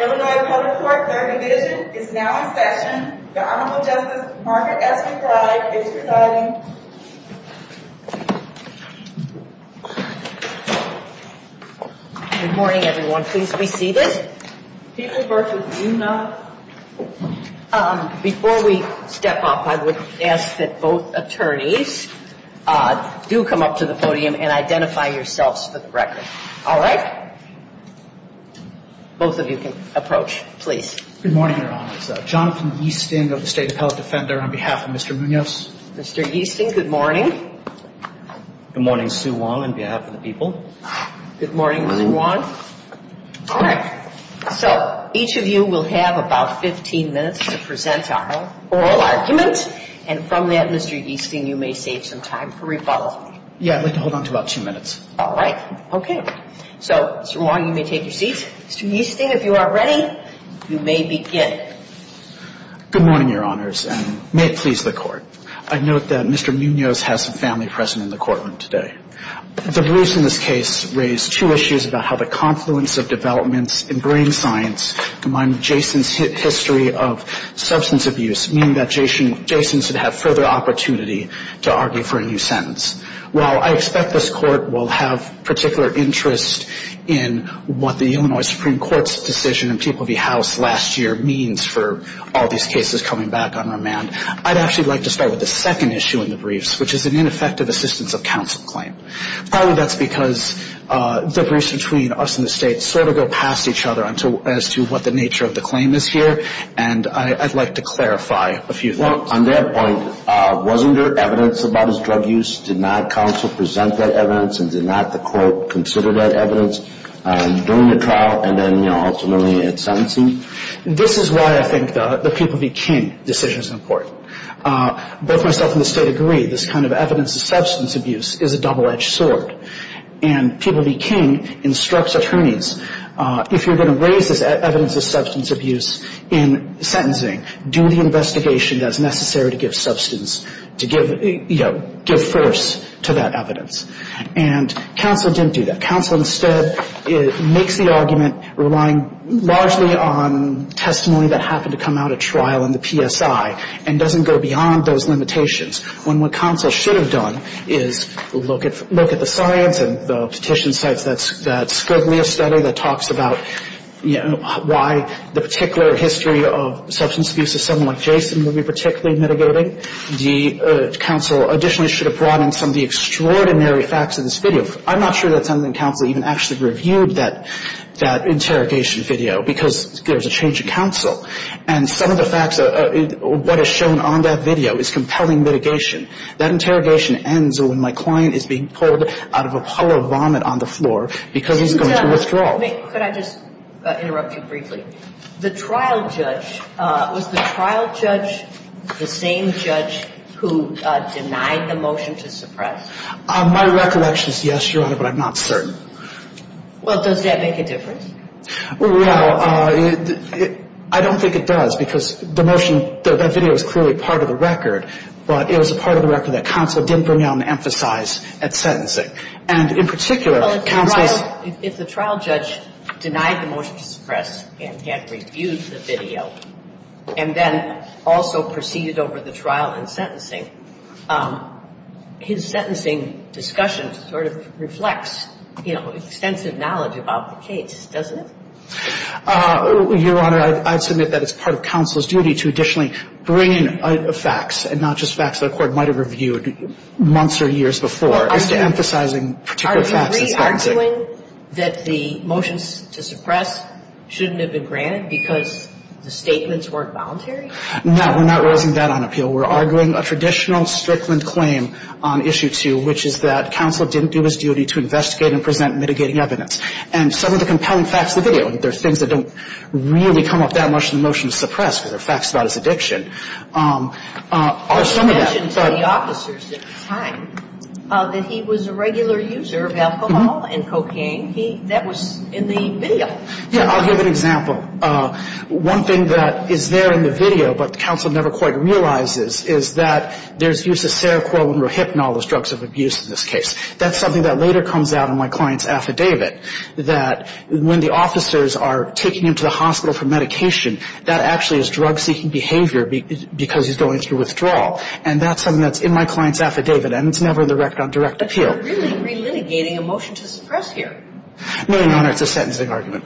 Illinois Public Court Third Division is now in session. The Honorable Justice Margaret S. McBride is presiding. Good morning everyone. Please be seated. People versus Munoz. Before we step up, I would ask that both attorneys do come up to the podium and identify yourselves for the record. All right. Both of you can approach, please. Good morning, Your Honors. Jonathan Easting of the State Appellate Defender on behalf of Mr. Munoz. Mr. Easting, good morning. Good morning, Sue Wong on behalf of the people. Good morning, Ms. Wong. All right. So each of you will have about 15 minutes to present our oral argument. And from that, Mr. Easting, you may save some time for rebuttal. Yeah, I'd like to hold on to about two minutes. All right. Okay. So, Sue Wong, you may take your seats. Mr. Easting, if you are ready, you may begin. Good morning, Your Honors, and may it please the Court. I note that Mr. Munoz has a family present in the courtroom today. The briefs in this case raise two issues about how the confluence of developments in brain science combined with Jason's history of substance abuse, meaning that Jason should have further opportunity to argue for a new sentence. While I expect this Court will have particular interest in what the Illinois Supreme Court's decision in Teeple v. House last year means for all these cases coming back on remand, I'd actually like to start with the second issue in the briefs, which is an ineffective assistance of counsel claim. Probably that's because the briefs between us and the State sort of go past each other as to what the nature of the claim is here, and I'd like to clarify a few things. On that point, wasn't there evidence about his drug use? Did not counsel present that evidence and did not the Court consider that evidence during the trial and then, you know, ultimately at sentencing? This is why I think the People v. King decision is important. Both myself and the State agree this kind of evidence of substance abuse is a double-edged sword, and People v. King instructs attorneys, if you're going to raise this evidence of substance abuse in sentencing, do the investigation that's necessary to give substance, to give, you know, give first to that evidence. And counsel didn't do that. Counsel instead makes the argument relying largely on testimony that happened to come out at trial in the PSI and doesn't go beyond those limitations, when what counsel should have done is look at the science and the petition sites that Skidley has studied that talks about, you know, why the particular history of substance abuse is something like Jason would be particularly mitigating. The counsel additionally should have brought in some of the extraordinary facts of this video. I'm not sure that sentencing counsel even actually reviewed that interrogation video because there's a change of counsel. And some of the facts of what is shown on that video is compelling mitigation. That interrogation ends when my client is being pulled out of a puddle of vomit on the floor because he's going to withdraw. Could I just interrupt you briefly? The trial judge, was the trial judge the same judge who denied the motion to suppress? My recollection is yes, Your Honor, but I'm not certain. Well, does that make a difference? Well, I don't think it does because the motion, that video is clearly part of the record, but it was a part of the record that counsel didn't bring out and emphasize at sentencing. And in particular, counsel's — Well, if the trial judge denied the motion to suppress and had reviewed the video and then also proceeded over the trial in sentencing, his sentencing discussion sort of reflects, you know, extensive knowledge about the case, doesn't it? Your Honor, I'd submit that it's part of counsel's duty to additionally bring in facts, and not just facts that a court might have reviewed months or years before, as to emphasizing particular facts at sentencing. Are you re-arguing that the motions to suppress shouldn't have been granted because the statements weren't voluntary? No, we're not raising that on appeal. We're arguing a traditional Strickland claim on Issue 2, which is that counsel didn't do his duty to investigate and present mitigating evidence. And some of the compelling facts of the video, and there are things that don't really come up that much in the motion to suppress because they're facts about his addiction, are some of that. You mentioned to the officers at the time that he was a regular user of alcohol and cocaine. That was in the video. Yeah, I'll give an example. One thing that is there in the video, but counsel never quite realizes, is that there's use of Seroquel and Rohypnol as drugs of abuse in this case. That's something that later comes out in my client's affidavit, that when the officers are taking him to the hospital for medication, that actually is drug-seeking behavior because he's going through withdrawal. And that's something that's in my client's affidavit, and it's never in the record on direct appeal. But you're really relitigating a motion to suppress here. No, Your Honor, it's a sentencing argument.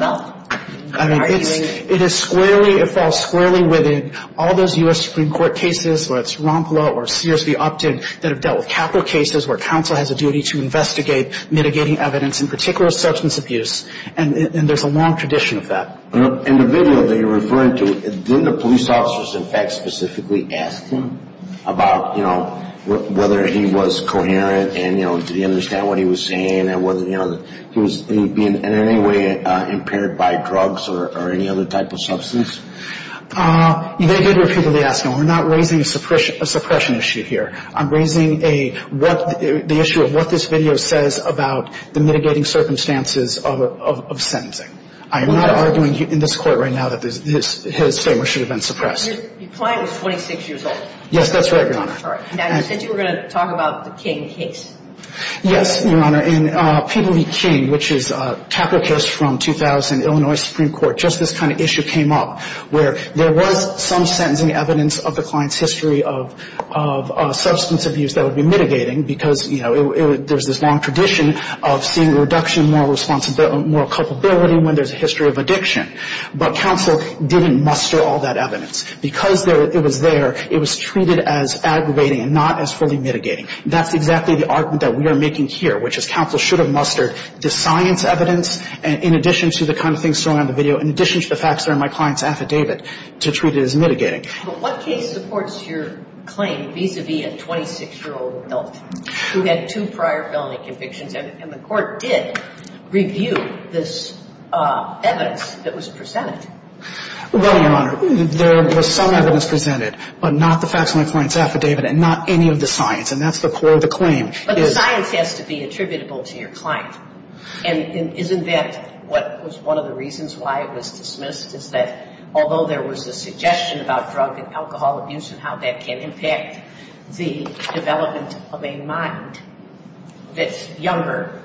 I mean, it is squarely, it falls squarely within all those U.S. Supreme Court cases, whether it's Rompelaugh or Sears v. Upton, that have dealt with capital cases where counsel has a duty to investigate mitigating evidence, in particular substance abuse. And there's a long tradition of that. In the video that you're referring to, didn't the police officers in fact specifically ask him about, you know, whether he was coherent and, you know, did he understand what he was saying? And, you know, was he in any way impaired by drugs or any other type of substance? They did repeatedly ask him. We're not raising a suppression issue here. I'm raising the issue of what this video says about the mitigating circumstances of sentencing. I am not arguing in this court right now that his statement should have been suppressed. Your client was 26 years old. Yes, that's right, Your Honor. Now, you said you were going to talk about the King case. Yes, Your Honor. In Pemberley King, which is a taprochist from 2000 Illinois Supreme Court, just this kind of issue came up where there was some sentencing evidence of the client's history of substance abuse that would be mitigating because, you know, there's this long tradition of seeing a reduction in moral responsibility and moral culpability when there's a history of addiction. But counsel didn't muster all that evidence. Because it was there, it was treated as aggravating and not as fully mitigating. That's exactly the argument that we are making here, which is counsel should have mustered the science evidence, in addition to the kind of things shown on the video, in addition to the facts that are in my client's affidavit, to treat it as mitigating. But what case supports your claim vis-à-vis a 26-year-old adult who had two prior felony convictions and the court did review this evidence that was presented? Well, Your Honor, there was some evidence presented, but not the facts in my client's affidavit and not any of the science. And that's the core of the claim. But the science has to be attributable to your client. And isn't that what was one of the reasons why it was dismissed, is that although there was a suggestion about drug and alcohol abuse and how that can impact the development of a mind that's younger,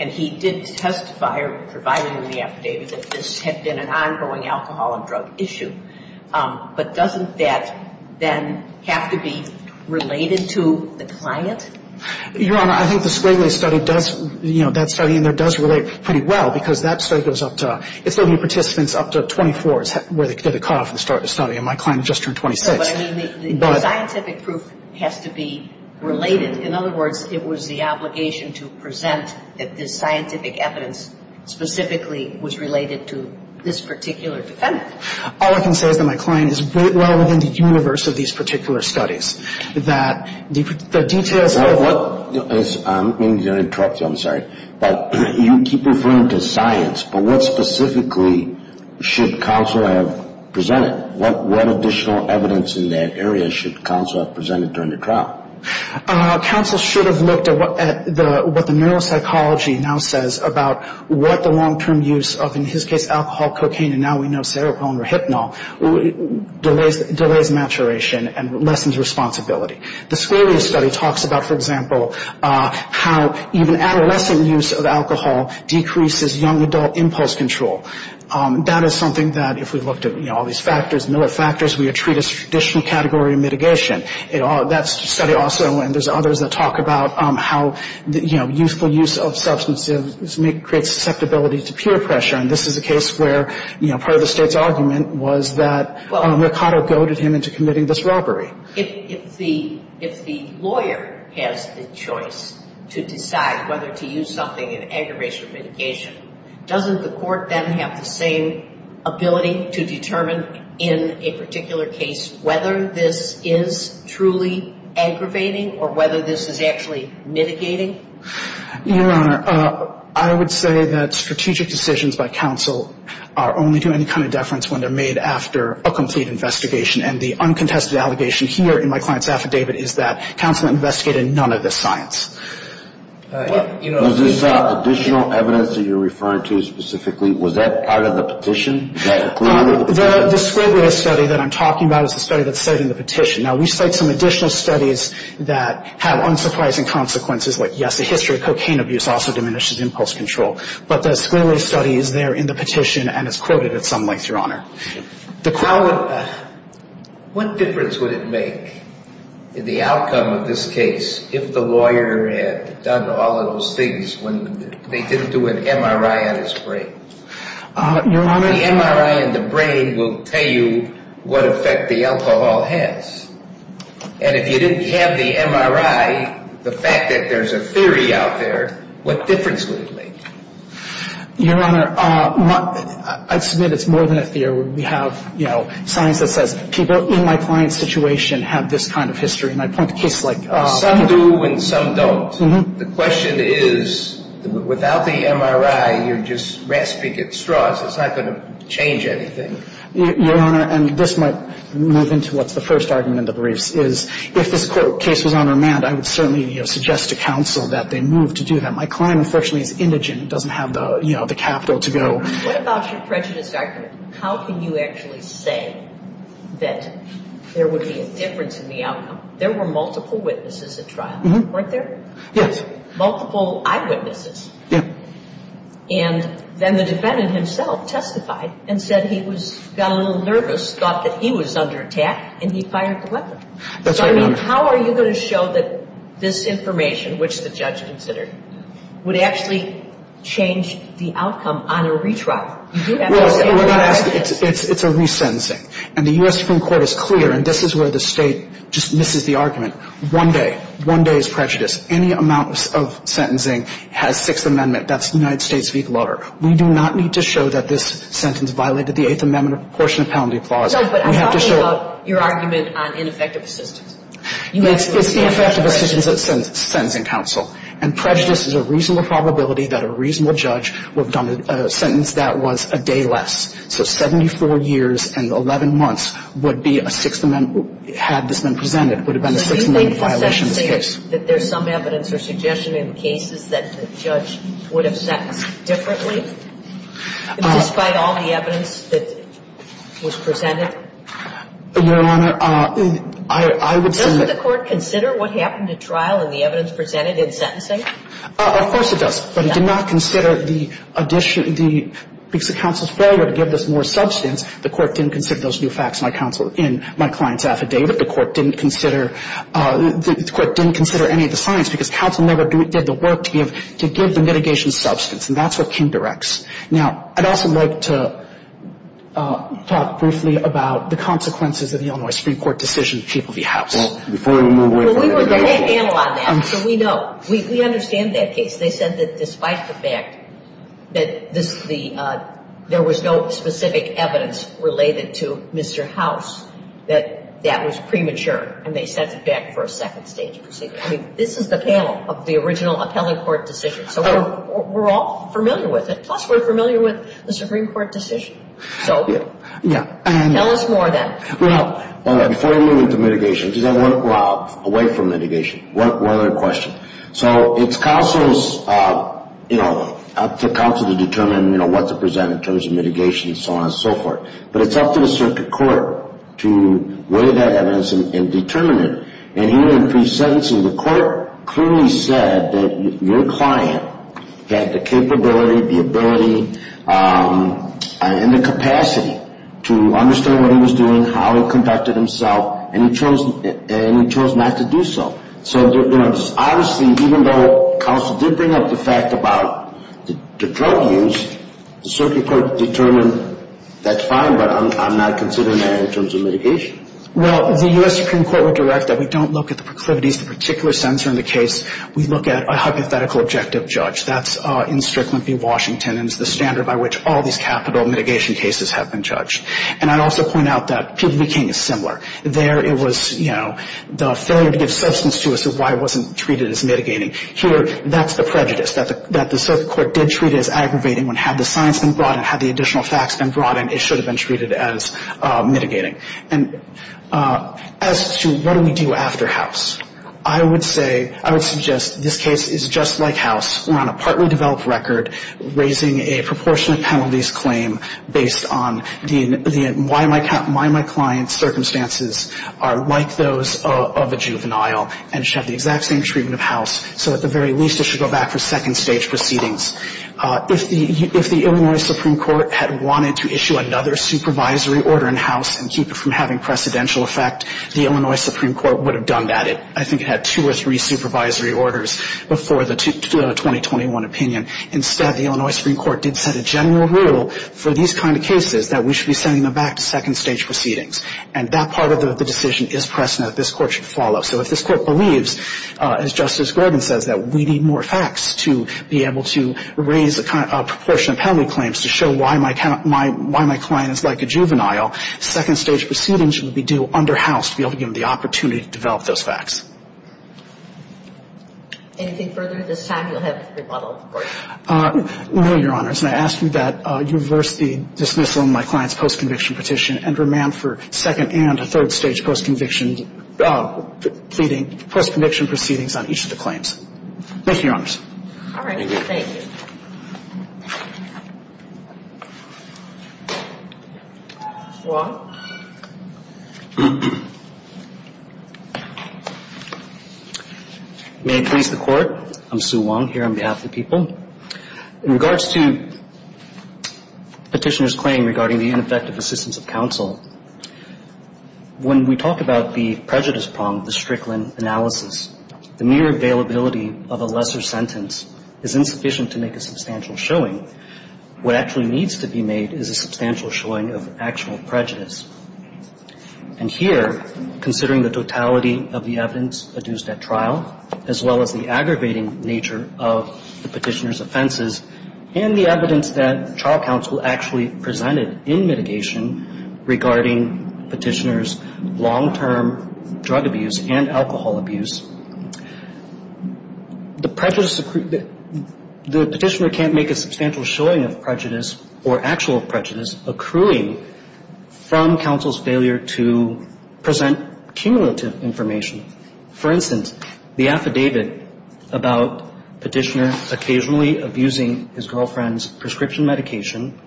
and he did testify, providing in the affidavit, that this had been an ongoing alcohol and drug issue. But doesn't that then have to be related to the client? Your Honor, I think the Squigley study does, you know, that study in there does relate pretty well because that study goes up to, it's only participants up to 24 is where they get a cutoff and start the study. And my client just turned 26. But I mean, the scientific proof has to be related. In other words, it was the obligation to present that this scientific evidence specifically was related to this particular defendant. All I can say is that my client is well within the universe of these particular studies, that the details of what... I'm going to interrupt you, I'm sorry. But you keep referring to science, but what specifically should counsel have presented? What additional evidence in that area should counsel have presented during the trial? Counsel should have looked at what the neuropsychology now says about what the long-term use of, in his case, alcohol, cocaine, and now we know, seropolin or hypnol, delays maturation and lessens responsibility. The Squigley study talks about, for example, how even adolescent use of alcohol decreases young adult impulse control. That is something that, if we looked at, you know, all these factors, millet factors, we would treat as a traditional category of mitigation. That study also, and there's others that talk about how, you know, useful use of substances creates susceptibility to peer pressure. And this is a case where, you know, part of the State's argument was that Mercado goaded him into committing this robbery. If the lawyer has the choice to decide whether to use something in aggravation or mitigation, doesn't the Court then have the same ability to determine in a particular case whether this is truly aggravating or whether this is actually mitigating? Your Honor, I would say that strategic decisions by counsel are only to any kind of deference when they're made after a complete investigation. And the uncontested allegation here in my client's affidavit is that counsel investigated none of this science. Was this additional evidence that you're referring to specifically, was that part of the petition that included? The Squigley study that I'm talking about is the study that's cited in the petition. Now, we cite some additional studies that have unsurprising consequences, like yes, the history of cocaine abuse also diminishes impulse control. But the Squigley study is there in the petition and is quoted at some length, Your Honor. What difference would it make in the outcome of this case if the lawyer had done all of those things when they didn't do an MRI on his brain? The MRI on the brain will tell you what effect the alcohol has. And if you didn't have the MRI, the fact that there's a theory out there, what difference would it make? Your Honor, I submit it's more than a theory. We have, you know, science that says people in my client's situation have this kind of history. And I point to cases like... Some do and some don't. The question is, without the MRI, you're just rasping at straws. It's not going to change anything. Your Honor, and this might move into what's the first argument in the briefs, is if this court case was on remand, I would certainly, you know, suggest to counsel that they move to do that. My client, unfortunately, is indigent, doesn't have the, you know, the capital to go. What about your prejudice argument? How can you actually say that there would be a difference in the outcome? There were multiple witnesses at trial, weren't there? Yes. Multiple eyewitnesses. Yeah. And then the defendant himself testified and said he was, got a little nervous, thought that he was under attack, and he fired the weapon. That's right, Your Honor. So, I mean, how are you going to show that this information, which the judge considered, would actually change the outcome on a retrial? You do have to say... Well, Your Honor, it's a resentencing. One day. One day is prejudice. Any amount of sentencing has Sixth Amendment. That's the United States v. Glutter. We do not need to show that this sentence violated the Eighth Amendment portion of penalty clause. Judge, but I'm talking about your argument on ineffective assistance. It's the effective assistance at sentencing counsel. And prejudice is a reasonable probability that a reasonable judge would have done a sentence that was a day less. So 74 years and 11 months would be a Sixth Amendment had this been presented. It would have been a Sixth Amendment violation in this case. Do you think the sentencing, that there's some evidence or suggestion in cases that the judge would have sentenced differently? Despite all the evidence that was presented? Your Honor, I would say... Doesn't the Court consider what happened at trial and the evidence presented in sentencing? Of course it does. But it did not consider the addition, the counsel's failure to give this more substance. The Court didn't consider those new facts in my client's affidavit. The Court didn't consider any of the science because counsel never did the work to give the mitigation substance. And that's what King directs. Now, I'd also like to talk briefly about the consequences of the Illinois Supreme Court decision to keep the house. Well, before we move away from that... We were going to handle on that. So we know. We understand that case. They said that despite the fact that there was no specific evidence related to Mr. House, that that was premature. And they sent it back for a second stage proceeding. I mean, this is the panel of the original appellate court decision. So we're all familiar with it. Plus, we're familiar with the Supreme Court decision. So... Yeah. Tell us more then. Well, before we move into mitigation, does anyone want to go out away from mitigation? One other question. So it's counsel's, you know, up to counsel to determine, you know, what to present in terms of mitigation and so on and so forth. But it's up to the circuit court to weigh that evidence and determine it. And here in pre-sentencing, the court clearly said that your client had the capability, the ability, and the capacity to understand what he was doing, how he conducted himself, and he chose not to do so. So, you know, honestly, even though counsel did bring up the fact about the drug use, the circuit court determined that's fine, but I'm not considering that in terms of mitigation. Well, the U.S. Supreme Court would direct that we don't look at the proclivities of the particular sensor in the case. We look at a hypothetical objective judge. That's in Strickland v. Washington, and it's the standard by which all these capital mitigation cases have been judged. And I'd also point out that Peabody King is similar. There it was, you know, the failure to give substance to it as to why it wasn't treated as mitigating. Here, that's the prejudice, that the circuit court did treat it as aggravating, when had the science been brought in, had the additional facts been brought in, it should have been treated as mitigating. And as to what do we do after House, I would say, I would suggest this case is just like House. We're on a partly developed record, raising a proportionate penalties claim based on the why my client's circumstances are like those of a juvenile, and should have the exact same treatment of House. So at the very least, it should go back for second stage proceedings. If the Illinois Supreme Court had wanted to issue another supervisory order in House and keep it from having precedential effect, the Illinois Supreme Court would have done that. I think it had two or three supervisory orders before the 2021 opinion. Instead, the Illinois Supreme Court did set a general rule for these kind of cases that we should be sending them back to second stage proceedings. And that part of the decision is precedent that this Court should follow. So if this Court believes, as Justice Gordon says, that we need more facts to be able to raise a proportionate penalty claims to show why my client is like a juvenile, second stage proceedings should be due under House to be able to give them the opportunity to develop those facts. Anything further at this time? You'll have to rebuttal, of course. No, Your Honors. And I ask you that you reverse the dismissal of my client's post-conviction petition and remand for second and third stage post-conviction proceedings on each of the claims. Thank you, Your Honors. All right. Thank you. Mr. Wong. May it please the Court. I'm Sue Wong here on behalf of the people. In regards to Petitioner's claim regarding the ineffective assistance of counsel, when we talk about the prejudice prong, the Strickland analysis, the mere availability of a lesser sentence is insufficient to make a substantial showing. What actually needs to be made is a substantial showing of actual prejudice. And here, considering the totality of the evidence adduced at trial, as well as the aggravating nature of the Petitioner's offenses and the evidence that trial counsel actually presented in mitigation regarding Petitioner's drug abuse and alcohol abuse, the Petitioner can't make a substantial showing of prejudice or actual prejudice accruing from counsel's failure to present cumulative information. For instance, the affidavit about Petitioner occasionally abusing his girlfriend's prescription medication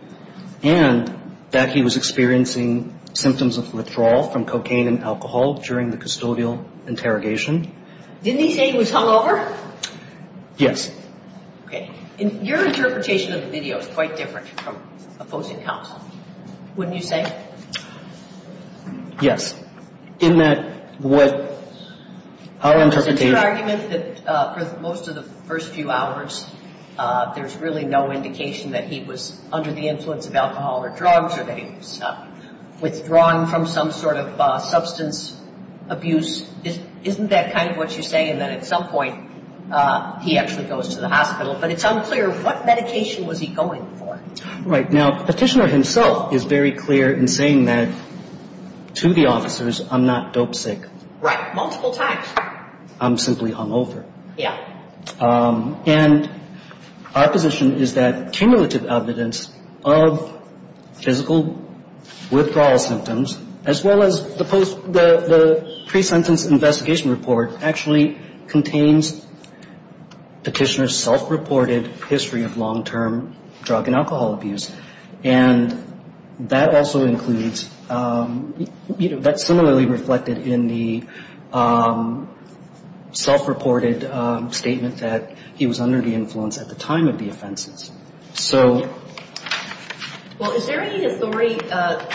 and that he was experiencing symptoms of withdrawal from cocaine and alcohol during the custodial interrogation. Didn't he say he was hungover? Yes. Okay. And your interpretation of the video is quite different from opposing counsel, wouldn't you say? Yes. Isn't that what our interpretation of the video is? Is it your argument that for most of the first few hours, there's really no indication that he was under the influence of alcohol or drugs or that he was withdrawn from some sort of substance abuse? Isn't that kind of what you're saying, that at some point he actually goes to the hospital? But it's unclear what medication was he going for? Right. Now, Petitioner himself is very clear in saying that to the officers, I'm not dope sick. Right. Multiple times. I'm simply hungover. Yeah. And our position is that cumulative evidence of physical withdrawal symptoms, as well as the pre-sentence investigation report, actually contains Petitioner's self-reported history of long-term drug and alcohol abuse. And that's similarly reflected in the self-reported statement that he was under the influence at the time of the offenses. Well, is there any authority that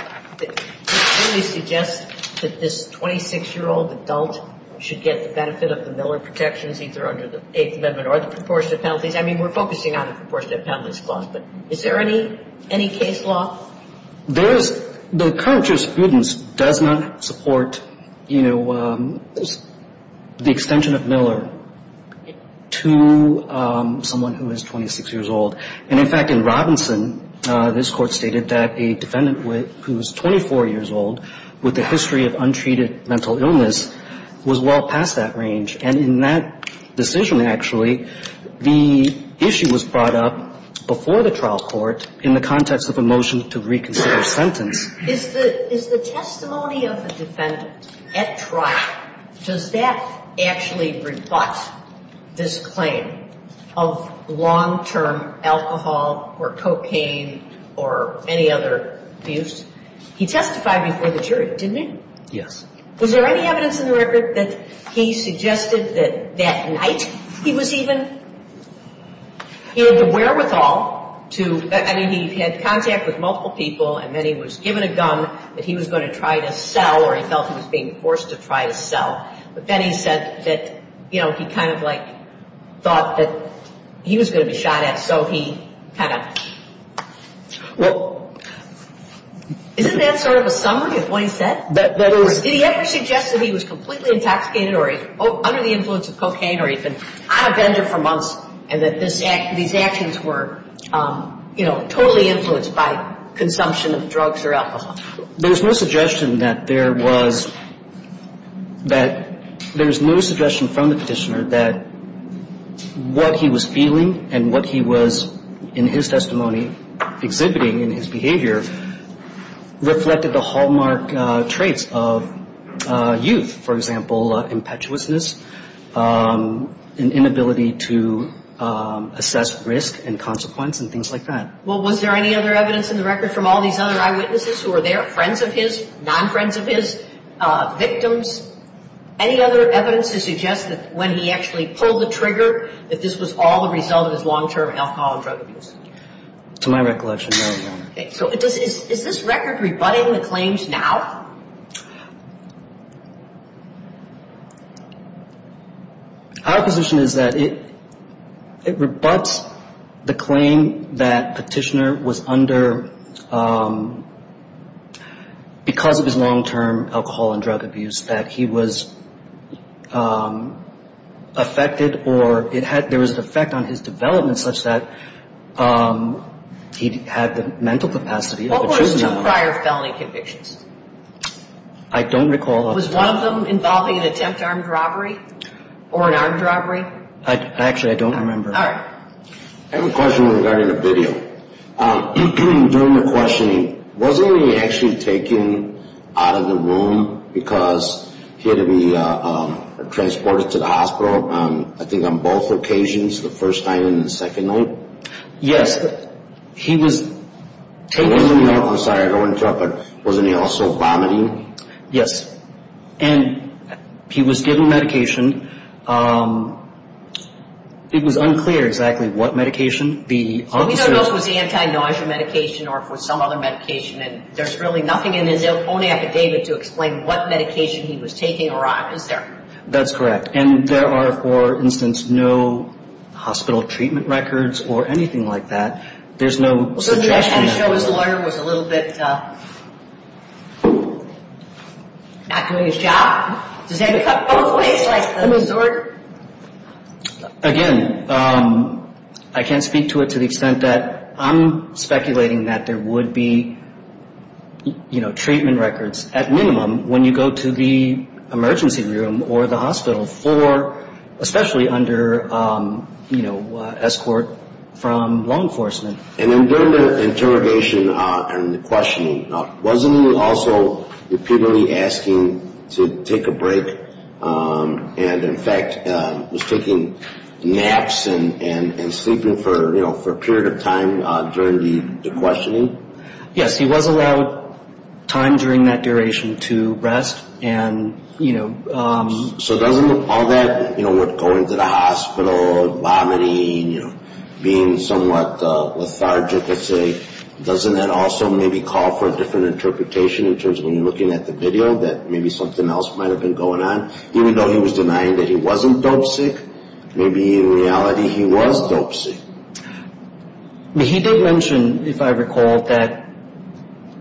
really suggests that this 26-year-old adult should get the benefit of the Miller protections, either under the Eighth Amendment or the proportionate penalties? I mean, we're focusing on the proportionate penalties clause, but is there any case law? There is. The current jurisprudence does not support, you know, the extension of Miller to someone who is 26 years old. And, in fact, in Robinson, this Court stated that a defendant who is 24 years old with a history of untreated mental illness was well past that range. And in that decision, actually, the issue was brought up before the trial court in the context of a motion to reconsider a sentence. Is the testimony of the defendant at trial, does that actually rebut this claim of long-term alcohol or cocaine or any other abuse? He testified before the jury, didn't he? Yes. Was there any evidence in the record that he suggested that that night he was even he had the wherewithal to, I mean, he had contact with multiple people and then he was given a gun that he was going to try to sell or he felt he was being forced to try to sell. But then he said that, you know, he kind of like thought that he was going to be shot at. So he kind of, well, isn't that sort of a summary of what he said? Did he ever suggest that he was completely intoxicated or under the influence of cocaine or he'd been on a bender for months and that these actions were, you know, totally influenced by consumption of drugs or alcohol? There's no suggestion that there was, that there's no suggestion from the petitioner that what he was feeling and what he was in his testimony exhibiting in his behavior reflected the hallmark traits of youth. For example, impetuousness, an inability to assess risk and consequence and things like that. Well, was there any other evidence in the record from all these other eyewitnesses who were there, friends of his, non-friends of his, victims? Any other evidence to suggest that when he actually pulled the trigger, that this was all the result of his long-term alcohol and drug abuse? To my recollection, no, Your Honor. So is this record rebutting the claims now? Our position is that it rebuts the claim that petitioner was under because of his long-term alcohol and drug abuse and that he was affected or it had, there was an effect on his development such that he had the mental capacity of a juvenile. What were his two prior felony convictions? I don't recall. Was one of them involving an attempt armed robbery or an armed robbery? Actually, I don't remember. I have a question regarding the video. During the questioning, wasn't he actually taken out of the room because he had to be transported to the hospital, I think on both occasions, the first time and the second night? Yes, he was taken out. I'm sorry, I don't want to interrupt, but wasn't he also vomiting? Yes, and he was given medication. It was unclear exactly what medication. We thought it was anti-nausea medication or some other medication, and there's really nothing in his own affidavit to explain what medication he was taking or not, is there? That's correct. And there are, for instance, no hospital treatment records or anything like that. There's no suggestion that... So did that show his lawyer was a little bit not doing his job? Again, I can't speak to it to the extent that I'm speculating that there would be, you know, treatment records at minimum when you go to the emergency room or the hospital for, especially under, you know, escort from law enforcement. And then during the interrogation and the questioning, wasn't he also repeatedly asking to take a break, and in fact was taking naps and sleeping for, you know, for a period of time during the questioning? Yes, he was allowed time during that duration to rest, and, you know... So doesn't all that, you know, with going to the hospital, vomiting, you know, being somewhat lethargic, let's say, doesn't that also maybe call for a different interpretation in terms of when you're looking at the video that maybe something else might have been going on? Even though he was denying that he wasn't dopesick, maybe in reality he was dopesick. He did mention, if I recall, that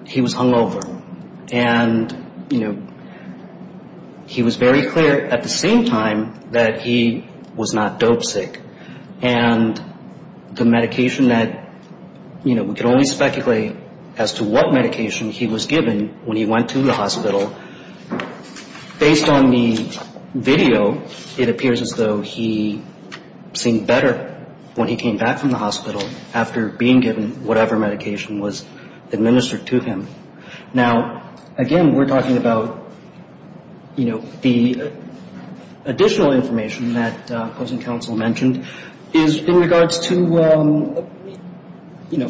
he was hungover, and, you know, he was very clear at the same time that he was not dopesick, and the medication that, you know, we could only speculate as to what medication he was given when he went to the hospital. Based on the video, it appears as though he seemed better when he came back from the hospital after being given whatever medication was administered to him. Now, again, we're talking about, you know, the additional information that opposing counsel mentioned is in regards to, you know,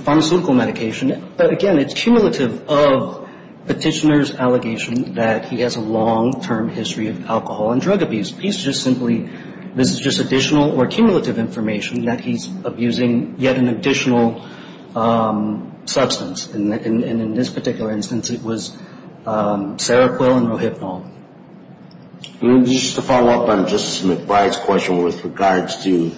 petitioner's allegation that he has a long-term history of alcohol and drug abuse. He's just simply, this is just additional or cumulative information that he's abusing yet an additional substance. And in this particular instance, it was Seroquel and Rohypnol. Just to follow up on Justice McBride's question with regards to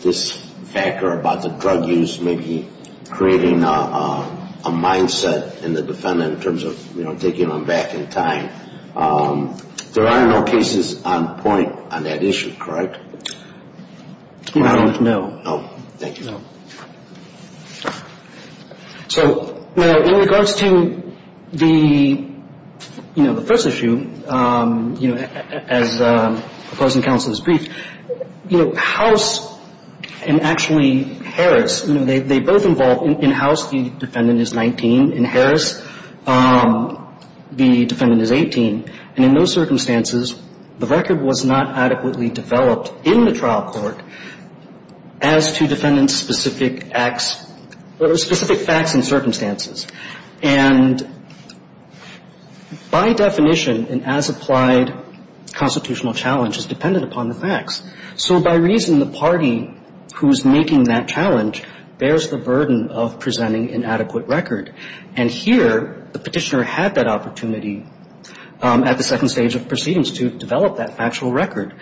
this factor about the drug use, maybe creating a mindset in the defendant in terms of, you know, taking him back in time. There are no cases on point on that issue, correct? No. So, in regards to the, you know, the first issue, you know, as opposing counsel has briefed, you know, House and actually Harris, you know, they both involved. In House, the defendant is 19. In Harris, the defendant is 18. And in those circumstances, the record was not adequately developed in the trial court as to defendant-specific acts or specific facts and circumstances. And by definition, an as-applied constitutional challenge is dependent upon the facts. So by reason, the party who's making that challenge bears the burden of presenting an adequate record. And here, the Petitioner had that opportunity at the second stage of proceedings to develop that factual record.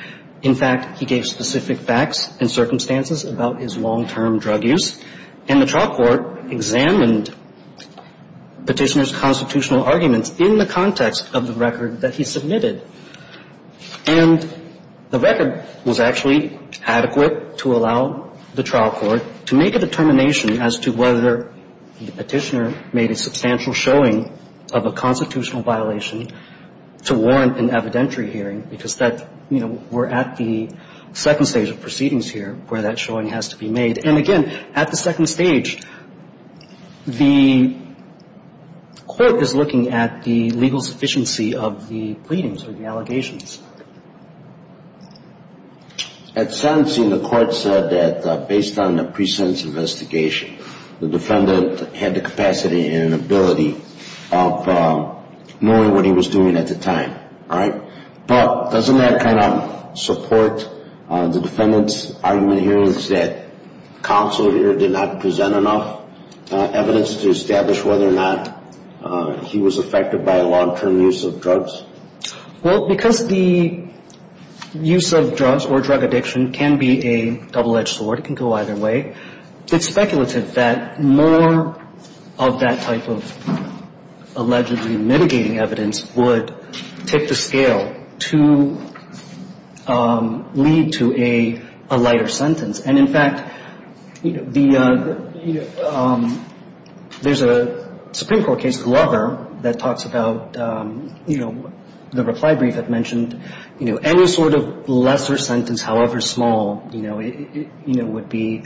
In fact, he gave specific facts and circumstances about his long-term drug use, and the trial court examined Petitioner's constitutional arguments in the context of the record that he submitted. And the record was actually adequate to allow the trial court to make a determination as to whether the Petitioner made a substantial showing of a constitutional violation to warrant an evidentiary hearing, because that, you know, we're at the second stage of proceedings here where that showing has to be made. And again, at the second stage, the court is looking at the legal sufficiency of the pleadings or the allegations. At sentencing, the court said that based on the pre-sentence investigation, the defendant had the capacity and ability of knowing what he was doing at the time. But doesn't that kind of support the defendant's argument here that counsel here did not present enough evidence to establish whether or not he was affected by a long-term use of drugs? Well, because the use of drugs or drug addiction can be a double-edged sword, it can go either way, it's speculative that more of that type of allegedly mitigating evidence would take the scale to lead to a lighter sentence. And in fact, you know, there's a Supreme Court case, Glover, that talks about, you know, the reply brief had mentioned, you know, any sort of lesser sentence, however small, you know, would be,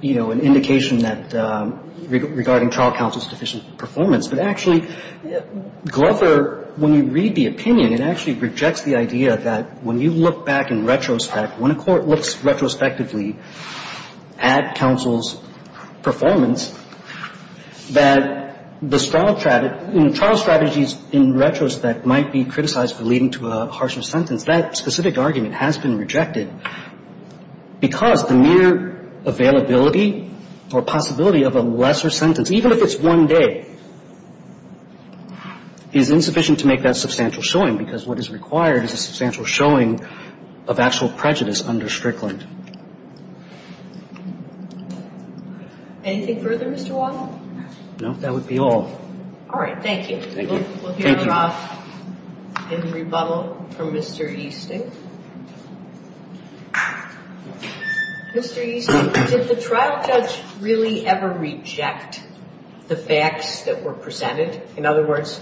you know, an indication that regarding trial counsel's deficient performance. But actually, Glover, when you read the opinion, it actually rejects the idea that when you look back in retrospect, when a court looks retrospectively at counsel's performance, that the trial strategies in retrospect might be criticized for leading to a harsher sentence. That specific argument has been rejected because the mere availability or possibility of a lesser sentence, even if it's one day, is insufficient to make that substantial showing, because what is required is a substantial showing of actual prejudice under Strickland. Anything further, Mr. Waddle? No, that would be all. All right, thank you. We'll hear from, in rebuttal, from Mr. Easting. Mr. Easting, did the trial judge really ever reject the facts that were presented? In other words,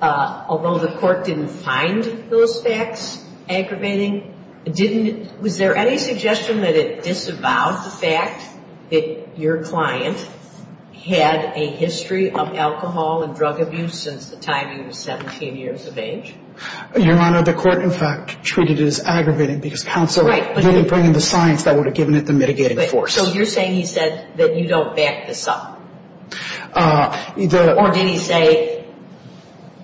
although the court didn't find those facts aggravating, was there any suggestion that it disavowed the fact that your client had a history of alcohol and drug abuse since the time he was 17 years of age? Your Honor, the court, in fact, treated it as aggravating because counsel didn't bring in the science that would have given it the mitigating force. So you're saying he said that you don't back this up? Or did he say,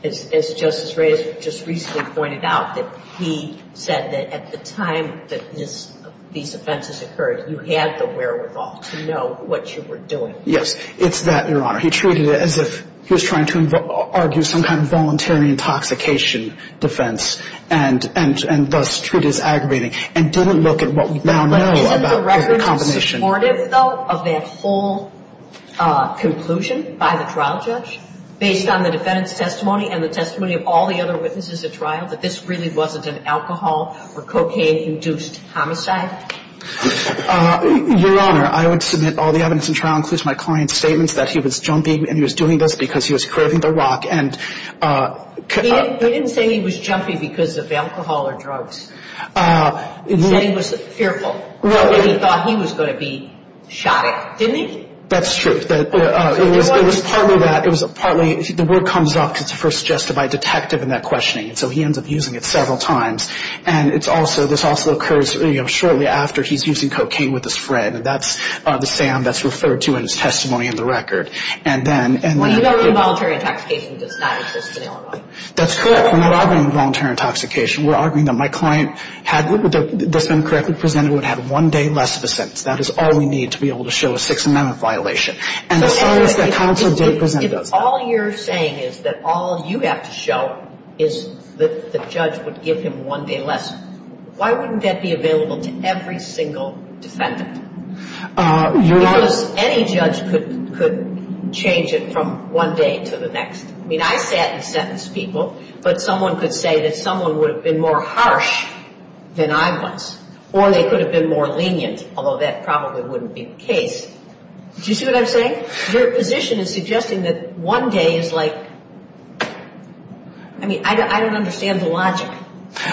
as Justice Reyes just recently pointed out, that he said that at the time that these offenses occurred, you had the wherewithal to know what you were doing? Yes, it's that, Your Honor. He treated it as if he was trying to argue some kind of voluntary intoxication defense and thus treat it as aggravating and didn't look at what we now know about the combination. But isn't the record supportive, though, of that whole conclusion by the trial judge, based on the defendant's testimony and the testimony of all the other witnesses at trial, that this really wasn't an alcohol or cocaine-induced homicide? Your Honor, I would submit all the evidence in trial includes my client's statements that he was jumping and he was doing this because he was craving the rock. He didn't say he was jumping because of alcohol or drugs. He said he was fearful. He thought he was going to be shot at. Didn't he? That's true. It was partly that. The word comes up because it's first suggested by a detective in that questioning. So he ends up using it several times. And this also occurs shortly after he's using cocaine with his friend. And that's the SAM that's referred to in his testimony in the record. Well, you know involuntary intoxication does not exist in Illinois. That's correct. We're not arguing voluntary intoxication. We're arguing that my client, if this had been correctly presented, would have had one day less of a sentence. That is all we need to be able to show a Sixth Amendment violation. And as far as the counsel didn't present it. If all you're saying is that all you have to show is that the judge would give him one day less, why wouldn't that be available to every single defendant? Because any judge could change it from one day to the next. I mean, I sat and sentenced people, but someone could say that someone would have been more harsh than I was. Or they could have been more lenient, although that probably wouldn't be the case. Do you see what I'm saying? Your position is suggesting that one day is like, I mean, I don't understand the logic.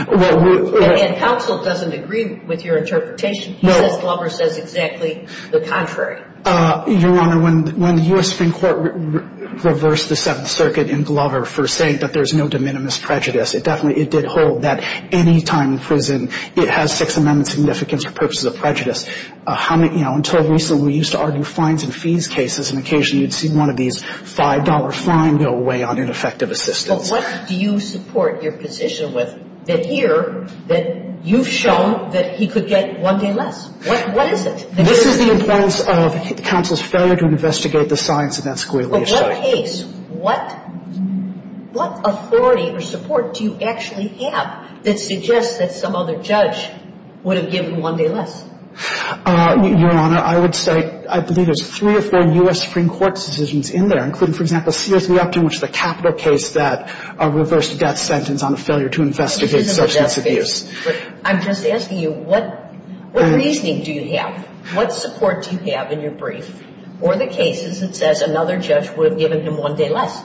And counsel doesn't agree with your interpretation? He says Glover says exactly the contrary. Your Honor, when the U.S. Supreme Court reversed the Seventh Circuit in Glover for saying that there's no de minimis prejudice, it definitely did hold that any time in prison it has Sixth Amendment significance for purposes of prejudice. Until recently, we used to argue fines and fees cases, and occasionally you'd see one of these $5 fine go away on ineffective assistance. But what do you support your position with that here, that you've shown that he could get one day less? What is it? This is the importance of counsel's failure to investigate the science of that squiggly issue. But what case, what authority or support do you actually have that suggests that some other judge would have given one day less? Your Honor, I would say I believe there's three or four U.S. Supreme Court decisions in there, including, for example, Sears v. Upton, which is a capital case that reversed death sentence on a failure to investigate substance abuse. I'm just asking you, what reasoning do you have? What support do you have in your brief for the cases that says another judge would have given him one day less?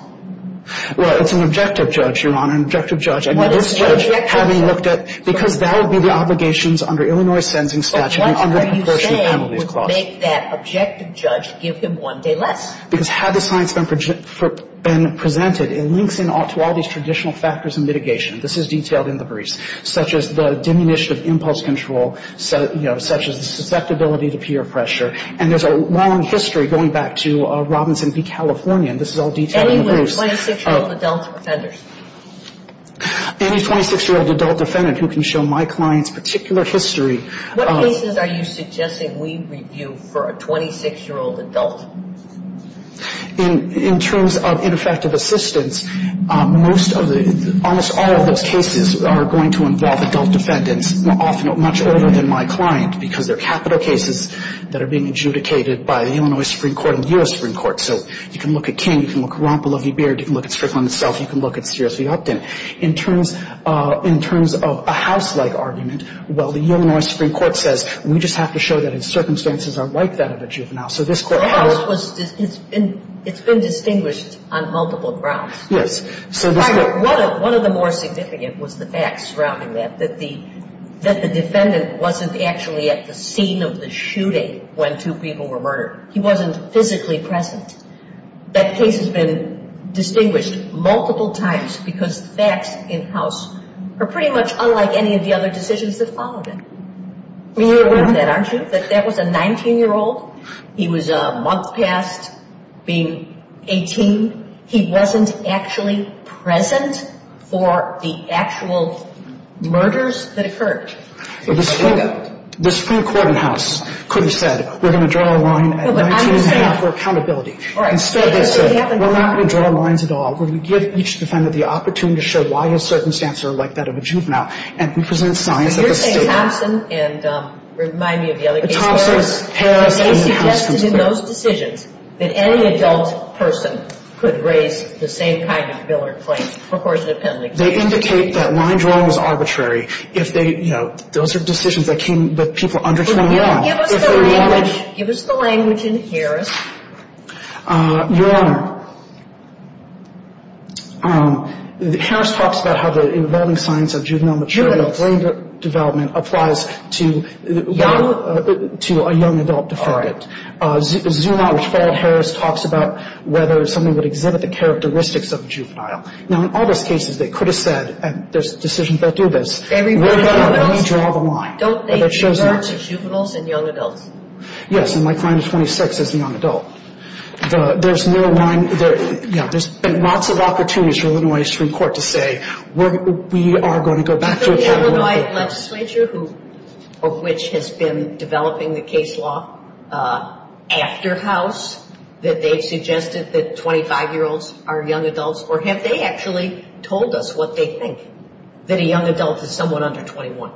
Well, it's an objective judge, Your Honor, an objective judge. I mean, this judge, having looked at — because that would be the obligations under Illinois sentencing statute under the proportionate penalties clause. But what are you saying would make that objective judge give him one day less? Because had the science been presented, it links in to all these traditional factors in mitigation. This is detailed in the briefs, such as the diminution of impulse control, such as the susceptibility to peer pressure. And there's a long history, going back to Robinson v. California, and this is all detailed in the briefs. Any 26-year-old adult offenders? Any 26-year-old adult defendant who can show my client's particular history. What cases are you suggesting we review for a 26-year-old adult? In terms of ineffective assistance, most of the — almost all of those cases are going to involve adult defendants, often much older than my client, because they're capital cases that are being adjudicated by the Illinois Supreme Court and the U.S. Supreme Court. So you can look at King, you can look at Rompel, Lovey, Beard, you can look at Strickland itself, you can look at Sears v. Upton. In terms of a house-like argument, well, the Illinois Supreme Court says, we just have to show that in circumstances unlike that of a juvenile. So this court — The house was — it's been distinguished on multiple grounds. Yes. One of the more significant was the facts surrounding that, that the defendant wasn't actually at the scene of the shooting when two people were murdered. He wasn't physically present. That case has been distinguished multiple times because facts in-house are pretty much unlike any of the other decisions that followed it. I mean, you're aware of that, aren't you, that that was a 19-year-old? He was a month past being 18. He wasn't actually present for the actual murders that occurred. The Supreme Court in-house could have said, we're going to draw a line at 19 and a half for accountability. All right. Instead, they said, we're not going to draw lines at all. We're going to give each defendant the opportunity to show why his circumstances are like that of a juvenile. And we present science at the state level. You're saying Thompson and — remind me of the other case. Thompson, Harris, and the house — They suggested in those decisions that any adult person could raise the same kind of bill or claim. Of course, it depends on the case. They indicate that line drawing is arbitrary. If they — you know, those are decisions that came with people under 21. Give us the language in Harris. Your Honor, Harris talks about how the evolving science of juvenile — Juveniles. — brain development applies to a young adult defendant. All right. Zuma, which followed Harris, talks about whether something would exhibit the characteristics of a juvenile. Now, in all those cases, they could have said, and there's decisions that do this, we're going to redraw the line. Don't they refer to juveniles and young adults? Yes, and my client of 26 is a young adult. There's no line — yeah, there's been lots of opportunities for Illinois Supreme Court to say, we are going to go back to — Is there an Illinois legislature of which has been developing the case law after House that they've suggested that 25-year-olds are young adults? Or have they actually told us what they think, that a young adult is somewhat under 21?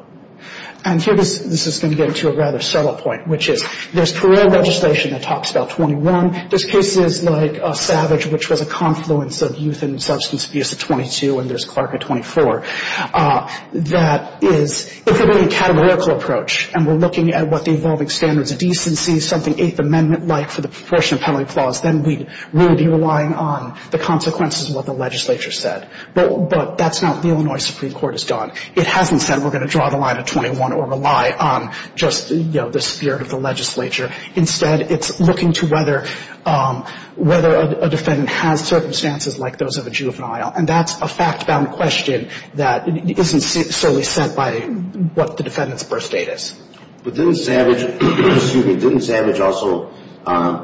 And here, this is going to get to a rather subtle point, which is there's parole legislation that talks about 21. There's cases like Savage, which was a confluence of youth and substance abuse at 22, and there's Clark at 24. That is, if we're doing a categorical approach, and we're looking at what the evolving standards of decency, something Eighth Amendment-like for the Proportionate Penalty Clause, then we'd really be relying on the consequences of what the legislature said. But that's not what the Illinois Supreme Court has done. It hasn't said we're going to draw the line at 21 or rely on just, you know, the spirit of the legislature. Instead, it's looking to whether a defendant has circumstances like those of a juvenile, and that's a fact-bound question that isn't solely set by what the defendant's birth date is. But didn't Savage also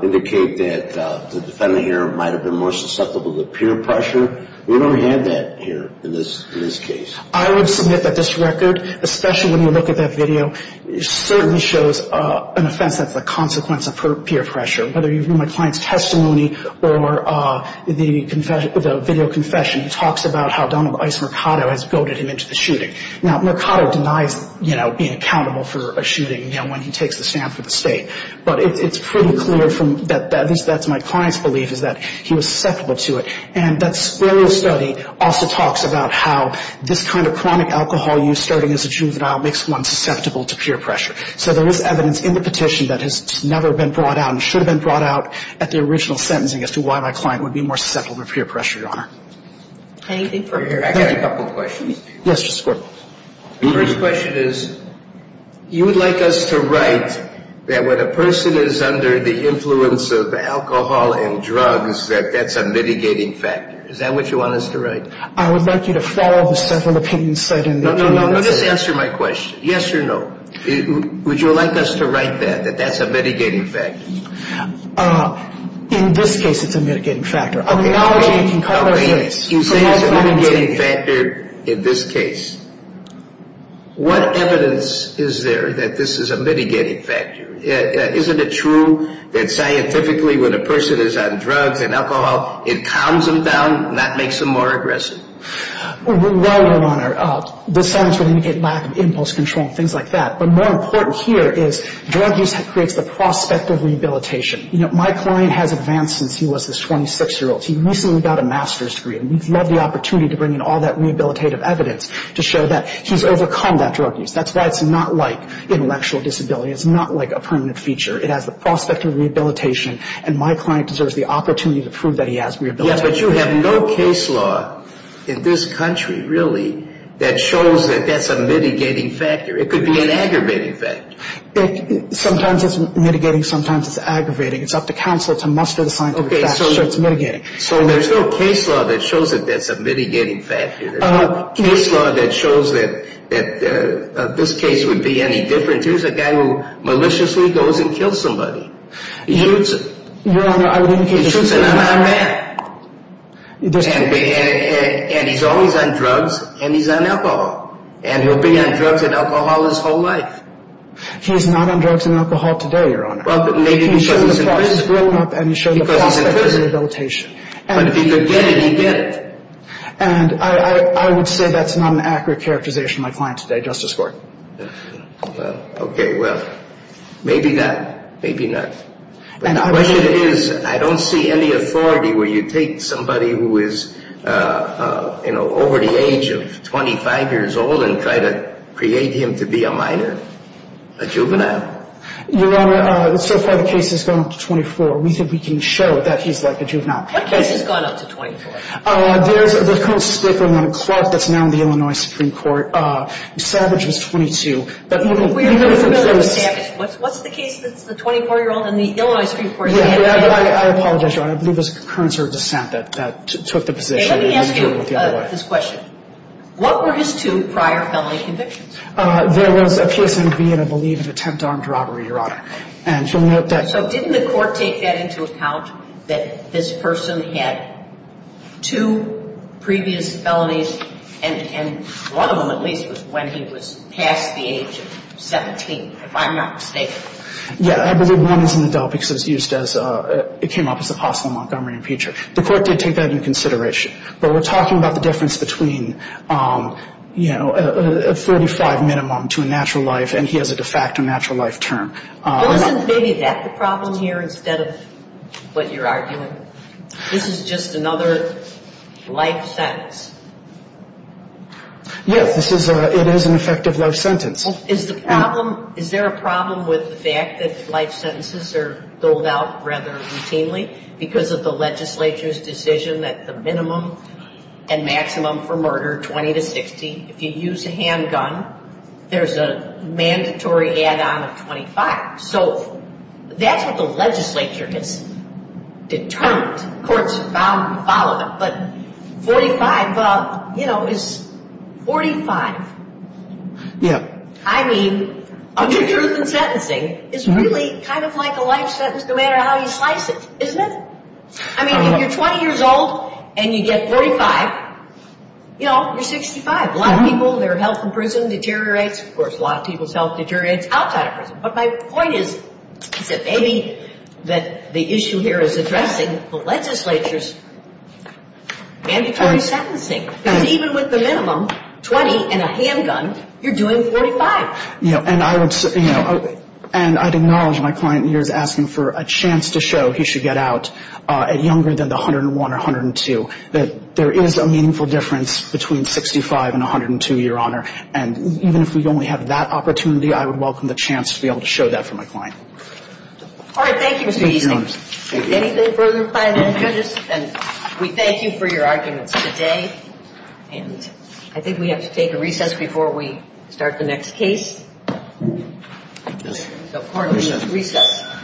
indicate that the defendant here might have been more susceptible to peer pressure? We don't have that here in this case. I would submit that this record, especially when you look at that video, certainly shows an offense that's a consequence of her peer pressure. Whether you read my client's testimony or the video confession, it talks about how Donald Ice Mercado has goaded him into the shooting. Now, Mercado denies, you know, being accountable for a shooting, you know, when he takes the stand for the State. But it's pretty clear from that, at least that's my client's belief, is that he was susceptible to it. And that scleral study also talks about how this kind of chronic alcohol use, starting as a juvenile, makes one susceptible to peer pressure. So there is evidence in the petition that has never been brought out and should have been brought out at the original sentencing as to why my client would be more susceptible to peer pressure, Your Honor. Thank you. I've got a couple of questions for you. Yes, Mr. Squirt. The first question is, you would like us to write that when a person is under the influence of alcohol and drugs, that that's a mitigating factor. Is that what you want us to write? I would like you to follow the several opinions set in the opinion. No, no, no. Just answer my question. Yes or no. Would you like us to write that, that that's a mitigating factor? In this case, it's a mitigating factor. Okay. You say it's a mitigating factor in this case. What evidence is there that this is a mitigating factor? Isn't it true that scientifically when a person is on drugs and alcohol, it calms them down, not makes them more aggressive? Well, Your Honor, the science would indicate lack of impulse control and things like that. But more important here is drug use creates the prospect of rehabilitation. You know, my client has advanced since he was this 26-year-old. He recently got a master's degree, and we'd love the opportunity to bring in all that rehabilitative evidence to show that he's overcome that drug use. That's why it's not like intellectual disability. It's not like a permanent feature. It has the prospect of rehabilitation, and my client deserves the opportunity to prove that he has rehabilitation. Yes, but you have no case law in this country, really, that shows that that's a mitigating factor. It could be an aggravating factor. Sometimes it's mitigating. Sometimes it's aggravating. It's up to counsel to muster the scientific facts so it's mitigating. So there's no case law that shows that that's a mitigating factor. There's no case law that shows that this case would be any different. Here's a guy who maliciously goes and kills somebody. He shoots him. Your Honor, I would indicate that's true. He shoots another man. And he's always on drugs, and he's on alcohol, and he'll be on drugs and alcohol his whole life. He's not on drugs and alcohol today, Your Honor. Well, but maybe he was in prison. He was grown up, and he showed the prospect of rehabilitation. He was in prison. But if he could get it, he did it. And I would say that's not an accurate characterization of my client today, Justice Court. Okay. Well, maybe not. Maybe not. The question is, I don't see any authority where you take somebody who is, you know, over the age of 25 years old and try to create him to be a minor, a juvenile. Your Honor, so far the case has gone up to 24. We think we can show that he's, like, a juvenile. What case has gone up to 24? There's a case on Clark that's now in the Illinois Supreme Court. Savage was 22. We're familiar with Savage. What's the case that's the 24-year-old in the Illinois Supreme Court? I apologize, Your Honor. I believe it was concurrence or dissent that took the position. Let me ask you this question. What were his two prior felony convictions? There was a PSMV and, I believe, an attempt on robbery, Your Honor. And you'll note that. So didn't the court take that into account, that this person had two previous felonies and one of them, at least, was when he was past the age of 17, if I'm not mistaken? Yeah. I believe one is an adult because it was used as a – it came up as a possible Montgomery impeacher. The court did take that into consideration. But we're talking about the difference between, you know, a 35 minimum to a natural life and he has a de facto natural life term. Isn't maybe that the problem here instead of what you're arguing? This is just another life sentence. Yes, this is a – it is an effective life sentence. Is the problem – is there a problem with the fact that life sentences are doled out rather routinely because of the legislature's decision that the minimum and maximum for murder, 20 to 60, if you use a handgun, there's a mandatory add-on of 25. So that's what the legislature has determined. Courts follow it. But 45, you know, is 45. Yeah. I mean, under truth in sentencing, it's really kind of like a life sentence no matter how you slice it. Isn't it? I mean, if you're 20 years old and you get 45, you know, you're 65. A lot of people, their health in prison deteriorates. Of course, a lot of people's health deteriorates outside of prison. But my point is that maybe the issue here is addressing the legislature's mandatory sentencing. Because even with the minimum, 20 and a handgun, you're doing 45. And I'd acknowledge my client here is asking for a chance to show he should get out at younger than the 101 or 102, that there is a meaningful difference between 65 and 102, Your Honor. And even if we only have that opportunity, I would welcome the chance to be able to show that for my client. All right. Thank you, Mr. Easting. Anything further to find out, judges? And we thank you for your arguments today. And I think we have to take a recess before we start the next case. So court is at recess.